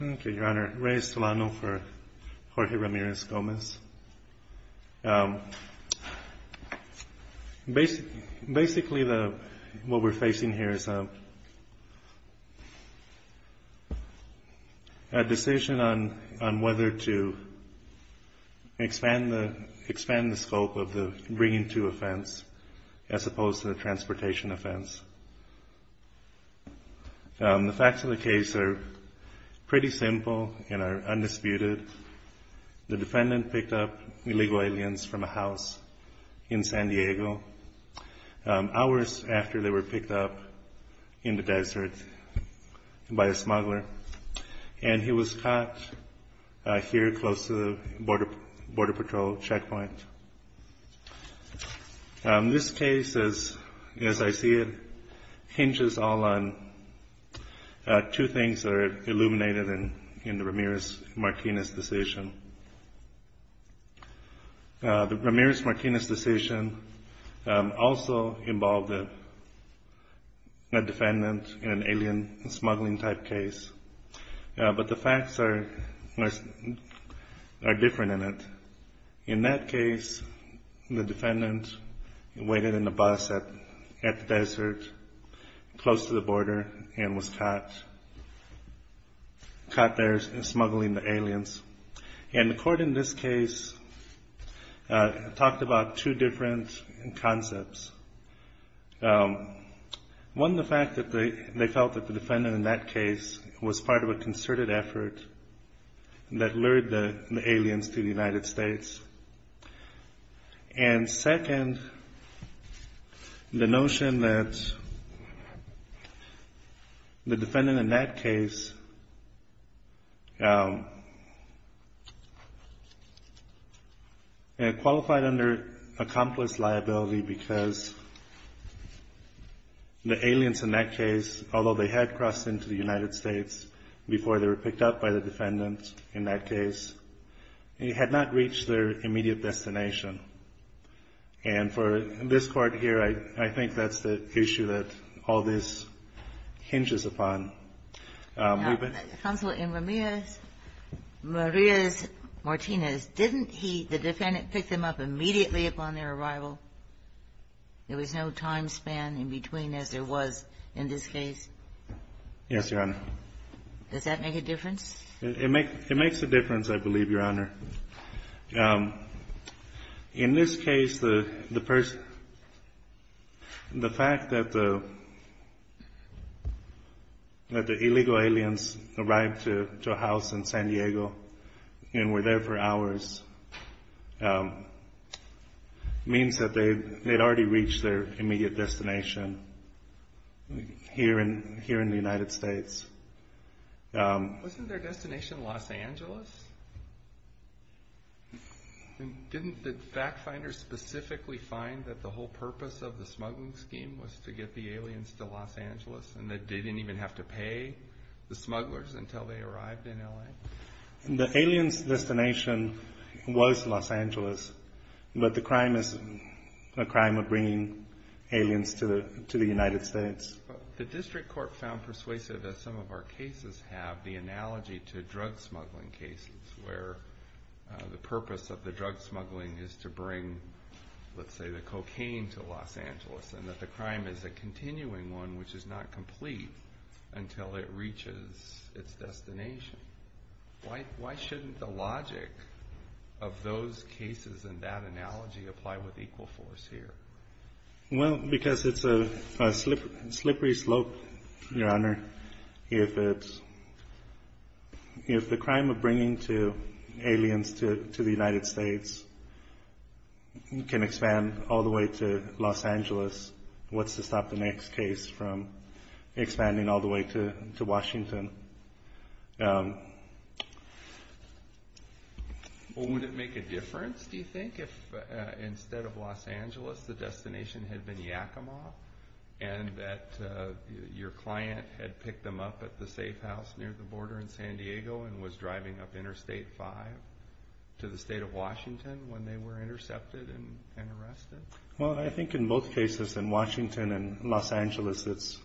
Okay, Your Honor. Ray Estolano for Jorge Ramirez-Gomez. Basically, what we're facing here is a, we're facing a decision on whether to expand the scope of the bringing to offense as opposed to the transportation offense. The facts of the case are pretty simple and are undisputed. The defendant picked up illegal aliens from a house in San Diego hours after they were picked up in the desert by a smuggler, and he was caught here close to the Border Patrol checkpoint. This case, as I see it, hinges all on two things that are illuminated in the Ramirez-Martinez decision. The Ramirez-Martinez decision also involved a defendant in an alien smuggling type case, but the facts are different in it. In that case, the defendant waited in a bus at the desert close to the border and was caught there smuggling the aliens. And the court in this case talked about two different concepts. One, the fact that they felt that the defendant in that case qualified under accomplice liability because the aliens in that case, although they had crossed into the United States before they were picked up by the defendant in that case, had not reached their immediate destination. And for this court here, I think that's the issue that all this hinges upon. Ginsburg. Counsel, in Ramirez-Martinez, didn't he, the defendant, pick them up immediately upon their arrival? There was no time span in between as there was in this case? Yes, Your Honor. Does that make a difference? It makes a difference, I believe, Your Honor. In this case, the fact that the illegal aliens arrived to a house in San Diego and were there for hours means that they had already reached their immediate destination here in the United States. Wasn't their destination Los Angeles? Didn't the fact finders specifically find that the whole purpose of the smuggling scheme was to get the aliens to Los Angeles and that they didn't even have to pay the smugglers until they arrived in LA? The aliens' destination was Los Angeles, but the crime is a crime of bringing aliens to the United States. The district court found persuasive, as some of our cases have, the analogy to drug smuggling cases where the purpose of the drug smuggling is to bring, let's say, the cocaine to Los Angeles and that the crime is a continuing one which is not complete until it reaches its destination. Why shouldn't the logic of those cases and that analogy apply with equal force here? Well, because it's a slippery slope, Your Honor. If the crime of bringing aliens to the United States can expand all the way to Los Angeles, what's to stop the next case from expanding all the way to Washington? Well, would it make a difference, do you think, if instead of Los Angeles the destination had been Yakima and that your client had picked them up at the safe house near the border in San Diego and was driving up Interstate 5 to the state of Washington when they were intercepted and arrested? Well, I think in both cases, in Washington and Los Angeles, it's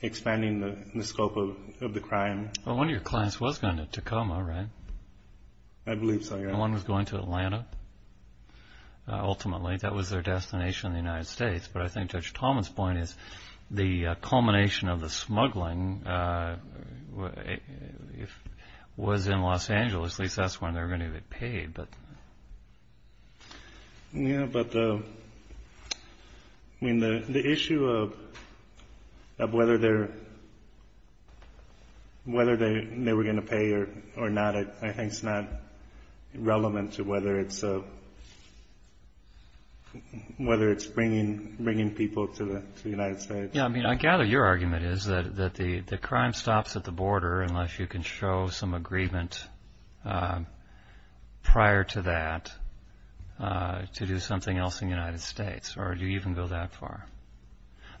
expanding the scope of the crime. Well, one of your clients was going to Tacoma, right? I believe so, Your Honor. One was going to Atlanta, ultimately. That was their destination in the United States. But I think Judge Thomas' point is the culmination of the smuggling was in Los Angeles. At least that's when they were going to get paid. Yeah, but the issue of whether they were going to pay or not, I think is not relevant to whether it's bringing people to the United States. I gather your argument is that the crime stops at the border unless you can show some agreement prior to that to do something else in the United States, or do you even go that far?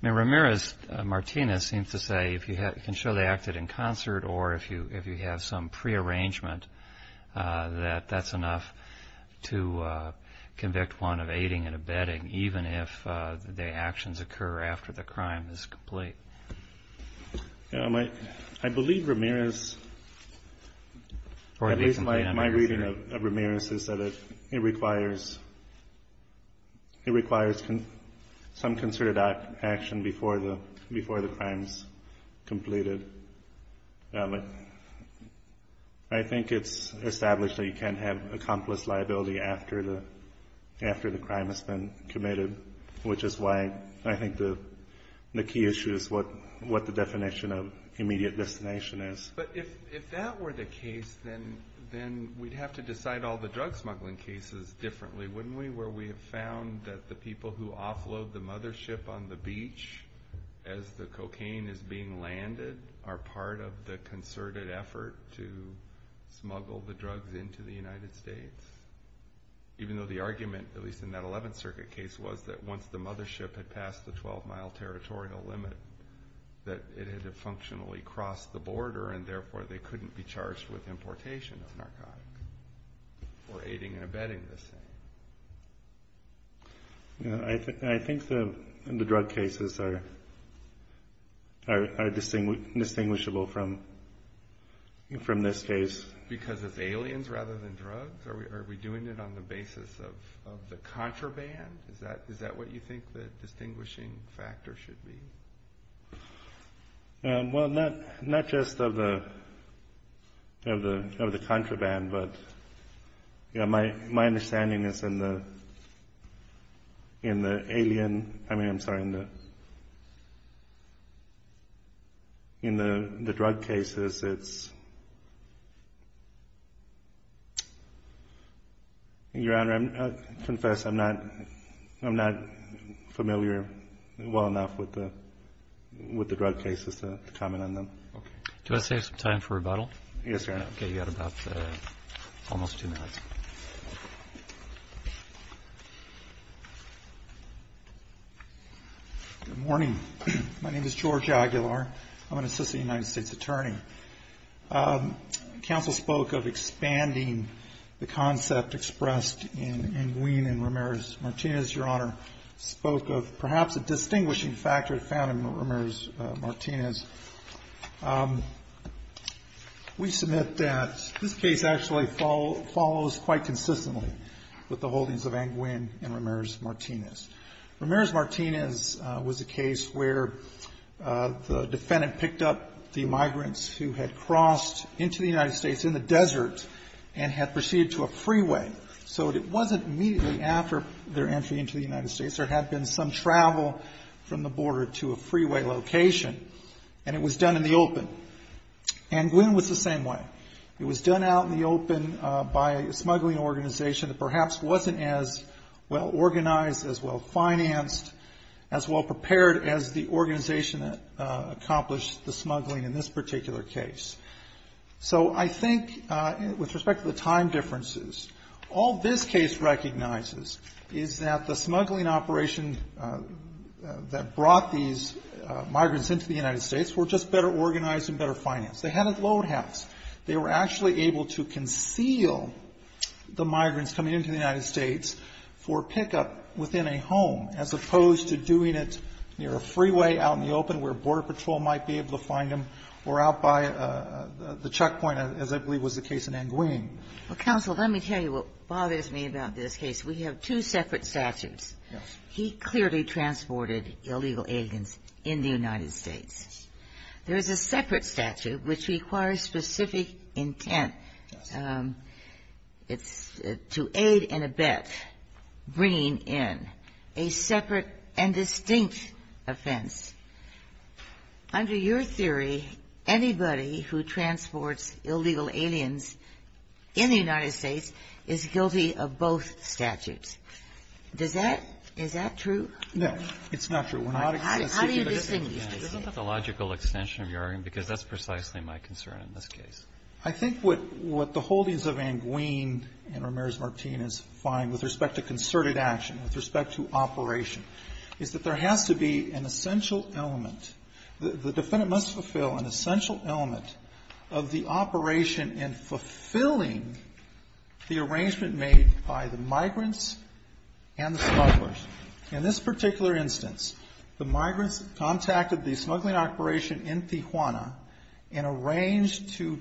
I mean, Ramirez-Martinez seems to say if you can show they acted in concert or if you have some prearrangement that that's enough to convict one of aiding and abetting, even if the actions occur after the crime is complete. I believe Ramirez, at least my reading of Ramirez, is that it requires some concerted action before the crime is completed. I think it's established that you can't have accomplice liability after the crime has been committed, which is why I think the key issue is what the definition of immediate destination is. But if that were the case, then we'd have to decide all the drug smuggling cases differently, wouldn't we, where we have found that the people who offload the mothership on the beach as the cocaine is being landed are part of the concerted effort to smuggle the drugs into the United States. Even though the argument, at least in that 11th Circuit case, was that once the mothership had passed the 12-mile territorial limit that it had functionally crossed the border, and therefore they couldn't be charged with importation of narcotics or aiding and abetting the same. I think the drug cases are distinguishable from this case. Because it's aliens rather than drugs? Are we doing it on the basis of the contraband? Is that what you think the distinguishing factor should be? Well, not just of the contraband, but my understanding is in the alien, I mean, I'm sorry, in the drug cases, it's... Your Honor, I confess I'm not familiar well enough with the drug cases to comment on them. Do I save some time for rebuttal? Yes, Your Honor. Okay, you've got about almost two minutes. Good morning. My name is George Aguilar. I'm an assistant United States attorney. Counsel spoke of expanding the concept expressed in Nguyen and Ramirez-Martinez, Your Honor, spoke of perhaps a distinguishing factor found in Ramirez-Martinez. We submit that this case actually follows quite consistently with the holdings of Nguyen and Ramirez-Martinez. Ramirez-Martinez was a case where the defendant picked up the migrants who had crossed into the United States in the desert and had proceeded to a freeway. So it wasn't immediately after their entry into the United States. There had been some travel from the border to a freeway location, and it was done in the open. And Nguyen was the same way. It was done out in the open by a smuggling organization that perhaps wasn't as well organized, as well financed, as well prepared as the organization that accomplished the smuggling in this particular case. So I think, with respect to the time differences, all this case recognizes is that the smuggling operation that brought these migrants into the United States were just better organized and better financed. They had a load house. They were actually able to conceal the migrants coming into the United States for pickup within a home, as opposed to doing it near a freeway out in the open where Border Patrol might be able to find them, or out by the checkpoint, as I believe was the case in Nguyen. Well, counsel, let me tell you what bothers me about this case. We have two separate statutes. Yes. He clearly transported illegal aliens in the United States. There is a separate statute which requires specific intent to aid and abet bringing in a separate and distinct offense. Under your theory, anybody who transports illegal aliens in the United States is guilty of both statutes. Does that – is that true? No. It's not true. We're not extensive. How do you distinguish? Isn't that the logical extension of your argument? Because that's precisely my concern in this case. I think what the holdings of Nguyen and Ramirez-Martinez find with respect to concerted action, with respect to operation, is that there has to be an essential element. The defendant must fulfill an essential element of the operation in fulfilling the arrangement made by the migrants and the smugglers. In this particular instance, the migrants contacted the smuggling operation in Tijuana and arranged to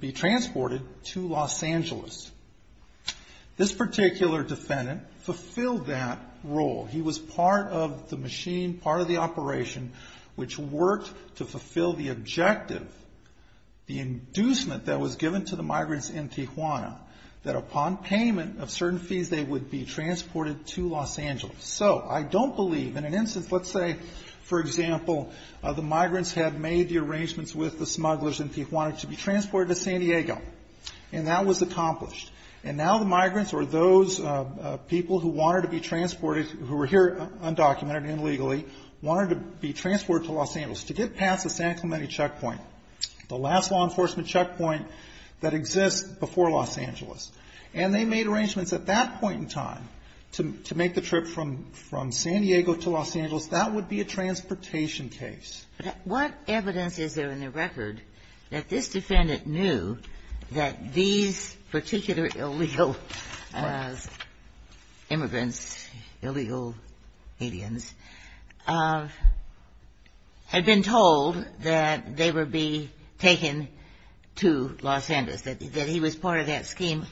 be transported to Los Angeles. This particular defendant fulfilled that role. He was part of the machine, part of the operation, which worked to fulfill the objective, the inducement that was given to the migrants in Tijuana, that upon payment of certain fees, they would be transported to Los Angeles. So I don't believe, in an instance, let's say, for example, the migrants had made the arrangements with the smugglers in Tijuana to be transported to San Diego, and that was accomplished. And now the migrants or those people who wanted to be transported, who were here undocumented and illegally, wanted to be transported to Los Angeles. To get past the San Clemente checkpoint, the last law enforcement checkpoint that exists before Los Angeles. And they made arrangements at that point in time to make the trip from San Diego to Los Angeles. That would be a transportation case. But what evidence is there in the record that this defendant knew that these particular illegal immigrants, illegal aliens, had been told that they would be taken to Los Angeles, that he was part of that scheme?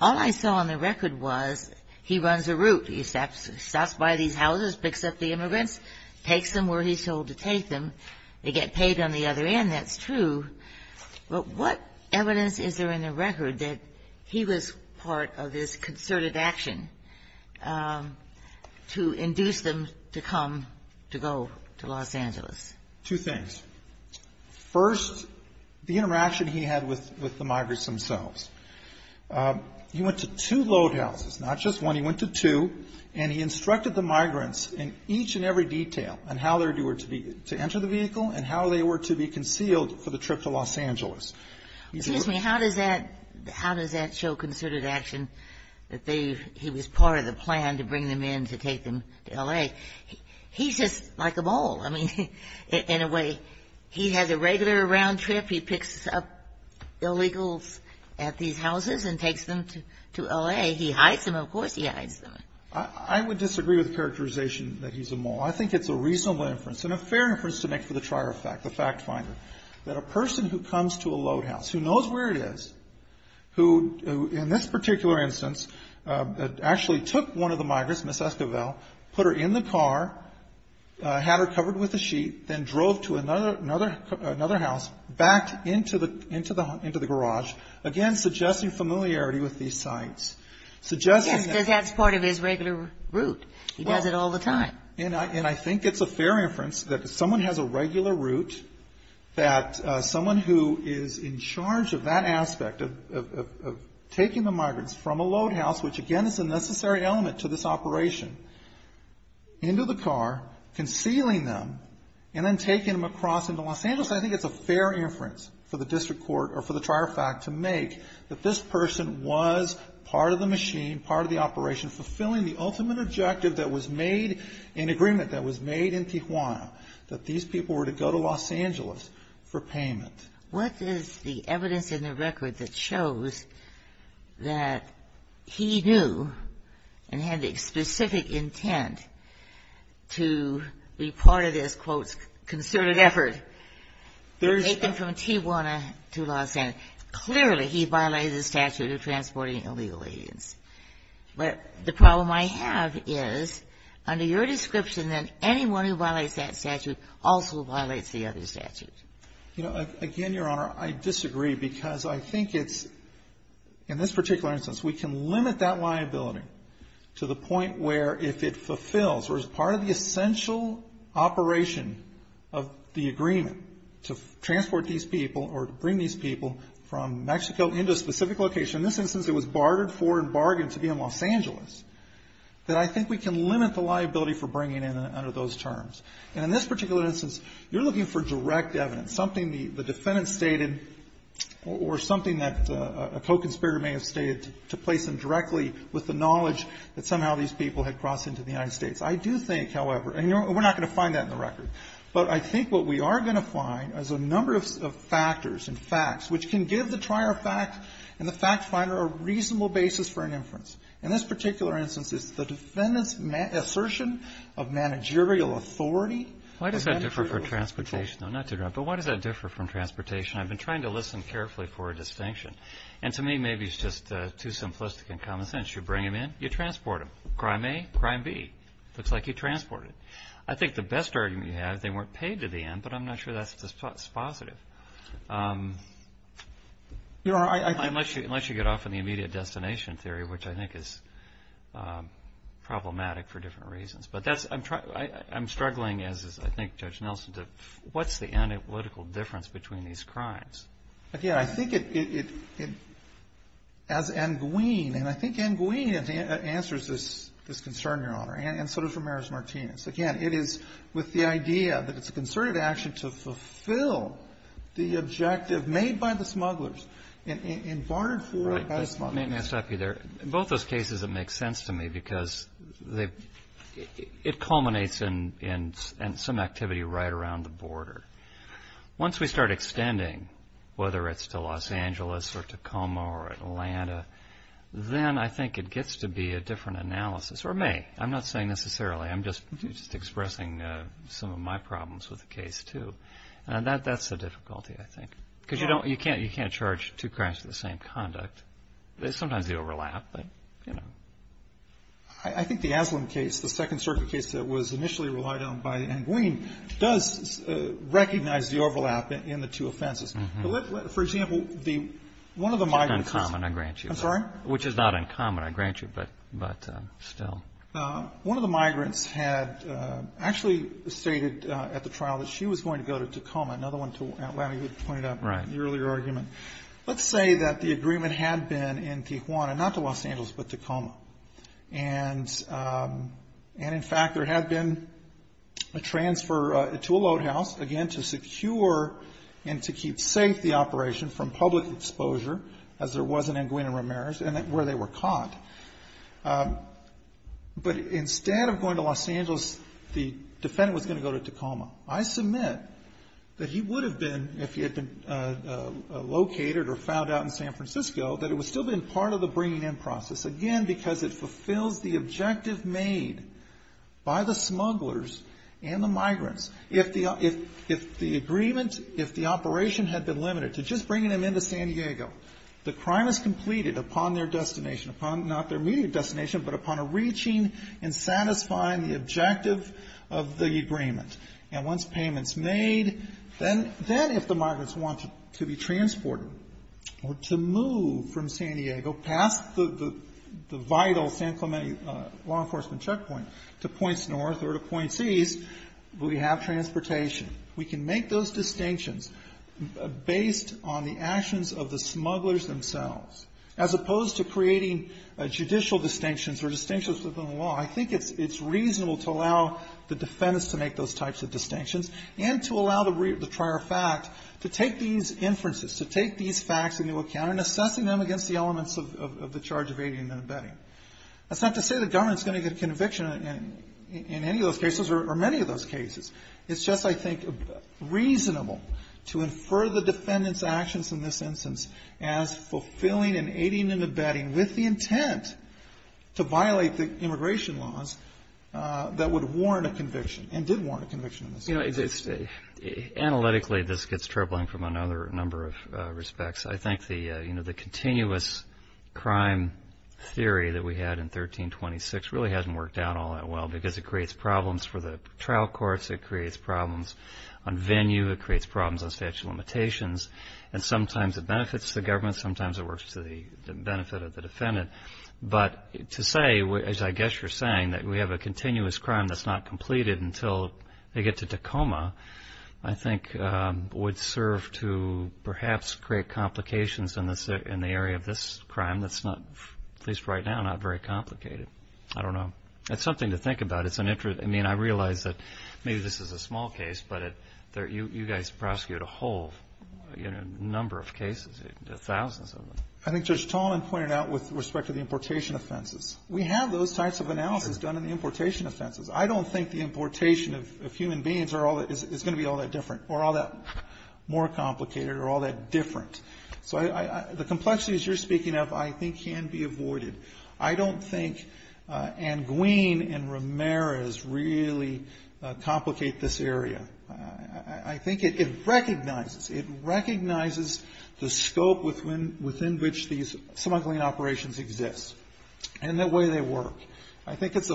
All I saw on the record was he runs a route. He stops by these houses, picks up the immigrants, takes them where he's told to take them. They get paid on the other end. That's true. But what evidence is there in the record that he was part of this concerted action to induce them to come to go to Los Angeles? Two things. First, the interaction he had with the migrants themselves. He went to two load houses, not just one. He went to two, and he instructed the migrants in each and every detail on how they were to enter the vehicle and how they were to be concealed for the trip to Los Angeles. Excuse me. How does that show concerted action that he was part of the plan to bring them in to take them to L.A.? He's just like a mole, I mean, in a way. He has a regular round trip. He picks up illegals at these houses and takes them to L.A. He hides them. Of course he hides them. I would disagree with the characterization that he's a mole. I think it's a reasonable inference and a fair inference to make for the trier fact, the fact finder, that a person who comes to a load house, who knows where it is, who in this particular instance actually took one of the migrants, Ms. Esquivel, put her in the car, had her covered with a sheet, then drove to another house, backed into the garage, again, suggesting familiarity with these sites, suggesting that he was part of the route. He does it all the time. And I think it's a fair inference that if someone has a regular route, that someone who is in charge of that aspect of taking the migrants from a load house, which, again, is a necessary element to this operation, into the car, concealing them, and then taking them across into Los Angeles, I think it's a fair inference for the district court or for the trier fact to make that this person was part of the machine, part of the operation, fulfilling the ultimate objective that was made in agreement that was made in Tijuana, that these people were to go to Los Angeles for payment. What is the evidence in the record that shows that he knew and had the specific intent to be part of this, quote, concerted effort to take them from Tijuana to Los Angeles? If it's under your description, then anyone who violates that statute also violates the other statutes. You know, again, Your Honor, I disagree, because I think it's, in this particular instance, we can limit that liability to the point where if it fulfills or is part of the essential operation of the agreement to transport these people or to bring these people from Mexico into a specific location. In this instance, it was bartered for and bargained to be in Los Angeles. That I think we can limit the liability for bringing in under those terms. And in this particular instance, you're looking for direct evidence, something the defendant stated or something that a co-conspirator may have stated to place them directly with the knowledge that somehow these people had crossed into the United States. I do think, however, and we're not going to find that in the record, but I think what we are going to find is a number of factors and facts which can give the trier fact and the fact finder a reasonable basis for an inference. In this particular instance, it's the defendant's assertion of managerial authority. Why does that differ from transportation? Not to interrupt, but why does that differ from transportation? I've been trying to listen carefully for a distinction. And to me, maybe it's just too simplistic in common sense. You bring them in, you transport them. Crime A, crime B. Looks like you transported them. I think the best argument you have, they weren't paid to the end, but I'm not sure that's positive. Unless you get off on the immediate destination theory, which I think is problematic for different reasons. But I'm struggling, as I think Judge Nelson did, what's the analytical difference between these crimes? Again, I think it, as Nguyen, and I think Nguyen answers this concern, Your Honor, and so does Ramirez-Martinez. Again, it is with the idea that it's a concerted action to fulfill the objective made by the smugglers and barred for by the smugglers. Let me stop you there. In both those cases, it makes sense to me because it culminates in some activity right around the border. Once we start extending, whether it's to Los Angeles or Tacoma or Atlanta, then I think it gets to be a different analysis. Or may. I'm not saying necessarily. I'm just expressing some of my problems with the case, too. That's the difficulty, I think. Because you can't charge two crimes for the same conduct. Sometimes they overlap, but, you know. I think the Aslan case, the Second Circuit case that was initially relied on by Nguyen, does recognize the overlap in the two offenses. For example, one of the migrants. It's not uncommon, I grant you. I'm sorry? Which is not uncommon, I grant you, but still. One of the migrants had actually stated at the trial that she was going to go to Tacoma, another one to Atlanta you had pointed out in the earlier argument. Let's say that the agreement had been in Tijuana, not to Los Angeles, but Tacoma. And in fact, there had been a transfer to a loathouse, again, to secure and to keep safe the But instead of going to Los Angeles, the defendant was going to go to Tacoma. I submit that he would have been, if he had been located or found out in San Francisco, that it would still have been part of the bringing in process. Again, because it fulfills the objective made by the smugglers and the migrants. If the agreement, if the operation had been limited to just bringing them into San Diego, the crime is completed upon their destination, upon not their immediate destination, but upon a reaching and satisfying the objective of the agreement. And once payment's made, then if the migrants want to be transported or to move from San Diego, past the vital San Clemente law enforcement checkpoint to points north or to points east, we have transportation. We can make those distinctions based on the actions of the smugglers themselves, as opposed to creating judicial distinctions or distinctions within the law. I think it's reasonable to allow the defendants to make those types of distinctions and to allow the prior fact to take these inferences, to take these facts into account and assessing them against the elements of the charge of aiding and abetting. That's not to say the government's going to get a conviction in any of those cases or many of those cases. It's just, I think, reasonable to infer the defendant's actions in this instance as fulfilling and aiding and abetting with the intent to violate the immigration laws that would warn a conviction and did warn a conviction in this case. You know, analytically, this gets troubling from another number of respects. I think the continuous crime theory that we had in 1326 really hasn't worked out all that well because it creates problems for the trial courts. It creates problems on venue. It creates problems on statute of limitations, and sometimes it benefits the government. Sometimes it works to the benefit of the defendant. But to say, as I guess you're saying, that we have a continuous crime that's not completed until they get to Tacoma, I think, would serve to perhaps create complications in the area of this crime that's not, at least right now, not very complicated. I don't know. It's something to think about. I mean, I realize that maybe this is a small case, but you guys prosecuted a whole number of cases, thousands of them. I think Judge Tallman pointed out with respect to the importation offenses, we have those types of analysis done in the importation offenses. I don't think the importation of human beings is going to be all that different or all that more complicated or all that different. So the complexities you're speaking of I think can be avoided. I don't think Anguin and Ramirez really complicate this area. I think it recognizes. It recognizes the scope within which these smuggling operations exist and the way they work. I think it's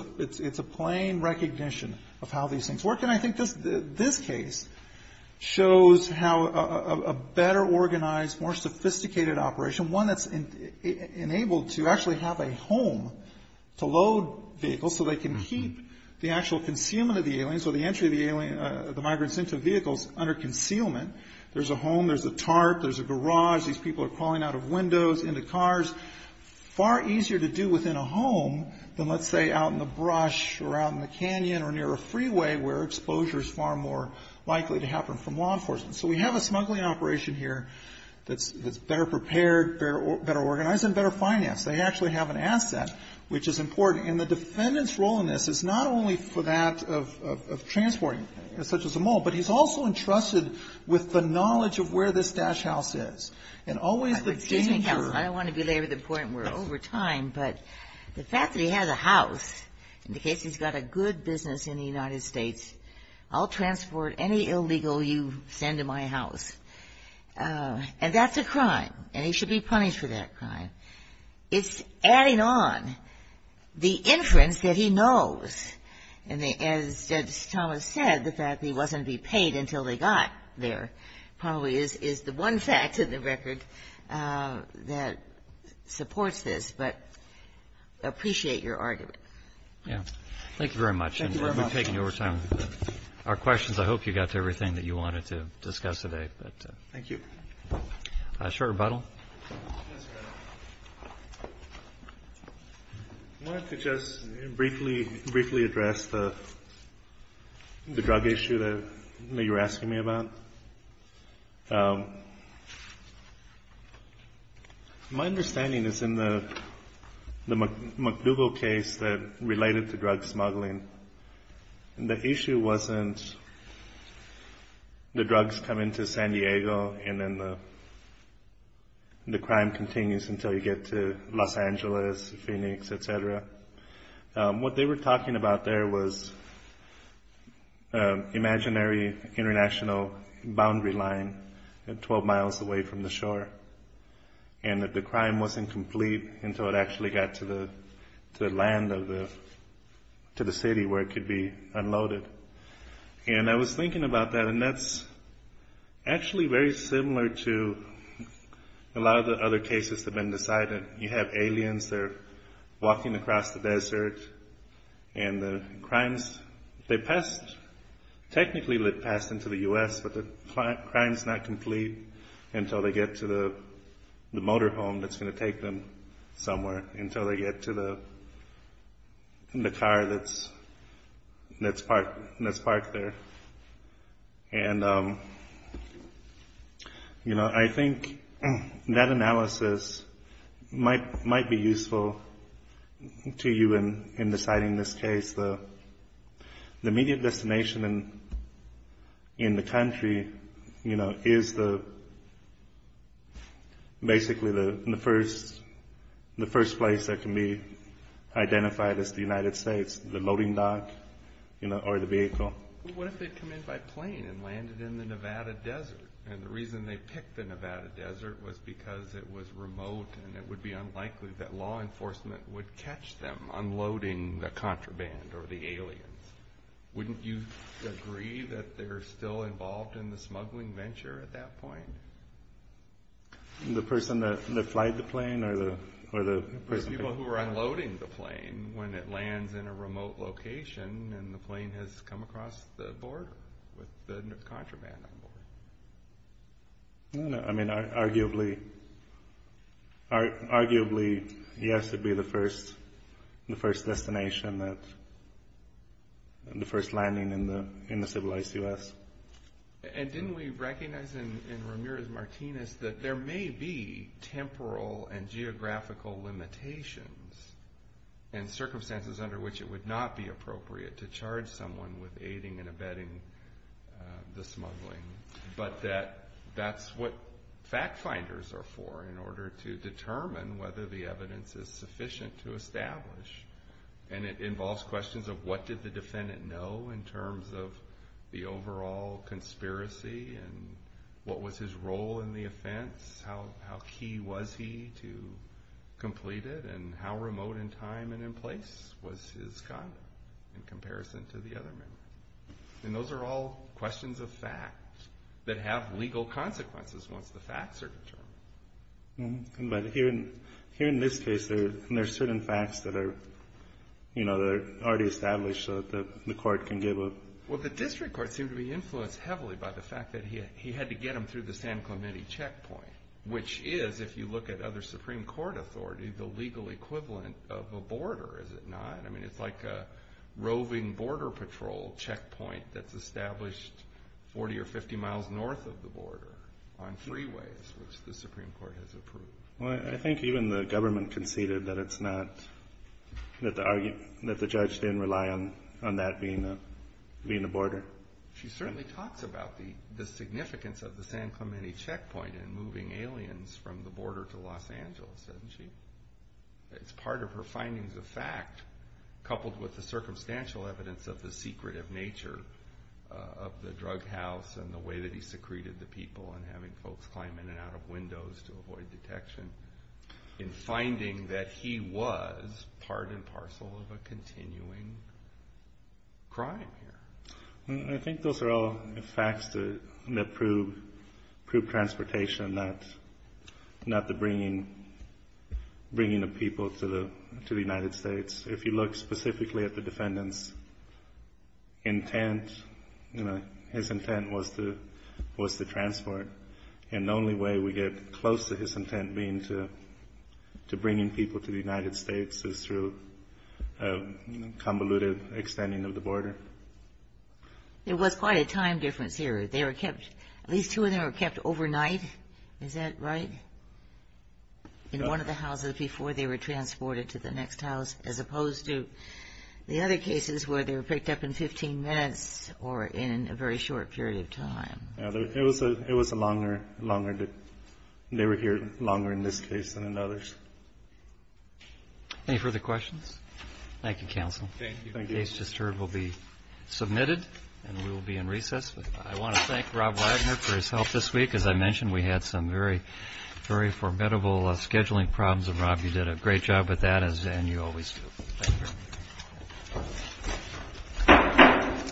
a plain recognition of how these things work. And I think this case shows how a better organized, more sophisticated operation, one that's enabled to actually have a home to load vehicles so they can keep the actual concealment of the aliens or the entry of the migrants into vehicles under concealment. There's a home. There's a tarp. There's a garage. These people are crawling out of windows into cars. Far easier to do within a home than, let's say, out in the brush or out in the canyon or near a freeway where exposure is far more likely to happen from law enforcement. So we have a smuggling operation here that's better prepared, better organized, and better financed. They actually have an asset, which is important. And the defendant's role in this is not only for that of transporting, such as a mole, but he's also entrusted with the knowledge of where this Daesh house is. And always the danger of it. I don't want to belabor the point. We're over time. But the fact that he has a house indicates he's got a good business in the United States. I'll transport any illegal you send to my house. And that's a crime. And he should be punished for that crime. It's adding on the inference that he knows. And as Justice Thomas said, the fact that he wasn't to be paid until they got there probably is the one fact in the record that supports this. But I appreciate your argument. Thank you very much. We've taken your time. Our questions, I hope you got to everything that you wanted to discuss today. A short rebuttal? Yes, Your Honor. I wanted to just briefly address the drug issue that you were asking me about. My understanding is in the MacDougall case that related to drug smuggling. The issue wasn't the drugs come into San Diego and then the crime continues until you get to Los Angeles, Phoenix, et cetera. What they were talking about there was imaginary international boundary line 12 miles away from the shore. And that the crime wasn't complete until it actually got to the land of the city where it could be unloaded. And I was thinking about that. And that's actually very similar to a lot of the other cases that have been decided. You have aliens that are walking across the desert. And the crimes, they passed, technically they passed into the U.S. but the crime is not complete until they get to the motor home that's going to take them somewhere. Until they get to the car that's parked there. And, you know, I think that analysis might be useful to you in deciding this case. The immediate destination in the country, you know, is basically the first place that can be identified as the United States, the loading dock or the vehicle. What if they come in by plane and landed in the Nevada desert? And the reason they picked the Nevada desert was because it was remote and it would be unlikely that law enforcement would catch them unloading the contraband or the aliens. Wouldn't you agree that they're still involved in the smuggling venture at that point? The person that flied the plane or the person? The people who were unloading the plane when it lands in a remote location and the plane has come across the border with the contraband on board? I mean, arguably, yes, it would be the first destination that, the first landing in the civilized U.S. And didn't we recognize in Ramirez-Martinez that there may be temporal and geographical limitations and circumstances under which it would not be appropriate to charge someone with aiding and abetting the smuggling, but that that's what fact finders are for in order to determine whether the evidence is sufficient to establish. And it involves questions of what did the defendant know in terms of the overall conspiracy and what was his role in the offense, how key was he to complete it, and how remote in time and in place was his condom in comparison to the other men. And those are all questions of fact that have legal consequences once the facts are determined. But here in this case, there are certain facts that are already established so that the court can give a... Well, the district court seemed to be influenced heavily by the fact that he had to get them through the San Clemente checkpoint, which is, if you look at other Supreme Court authority, the legal equivalent of a border, is it not? I mean, it's like a roving border patrol checkpoint that's established 40 or 50 miles north of the border on freeways, which the Supreme Court has approved. Well, I think even the government conceded that it's not, that the judge didn't rely on that being a border. She certainly talks about the significance of the San Clemente checkpoint in moving aliens from the border to Los Angeles, doesn't she? It's part of her findings of fact, coupled with the circumstantial evidence of the secretive nature of the drug house and the way that he secreted the people and having folks climb in and out of windows to avoid detection in finding that he was part and parcel of a continuing crime here. I think those are all facts that prove transportation, not the bringing of people to the United States. If you look specifically at the defendant's intent, his intent was to transport, and the only way we get close to his intent being to bringing people to the United States is through convoluted extending of the border. It was quite a time difference here. They were kept, at least two of them were kept overnight. Is that right? In one of the houses before they were transported to the next house, as opposed to the other cases where they were picked up in 15 minutes or in a very short period of time. It was a longer, longer, they were here longer in this case than in others. Any further questions? Thank you, Counsel. Thank you. The case just heard will be submitted, and we will be in recess. I want to thank Rob Wagner for his help this week. As I mentioned, we had some very formidable scheduling problems, and Rob, you did a great job with that, as you always do. Thank you.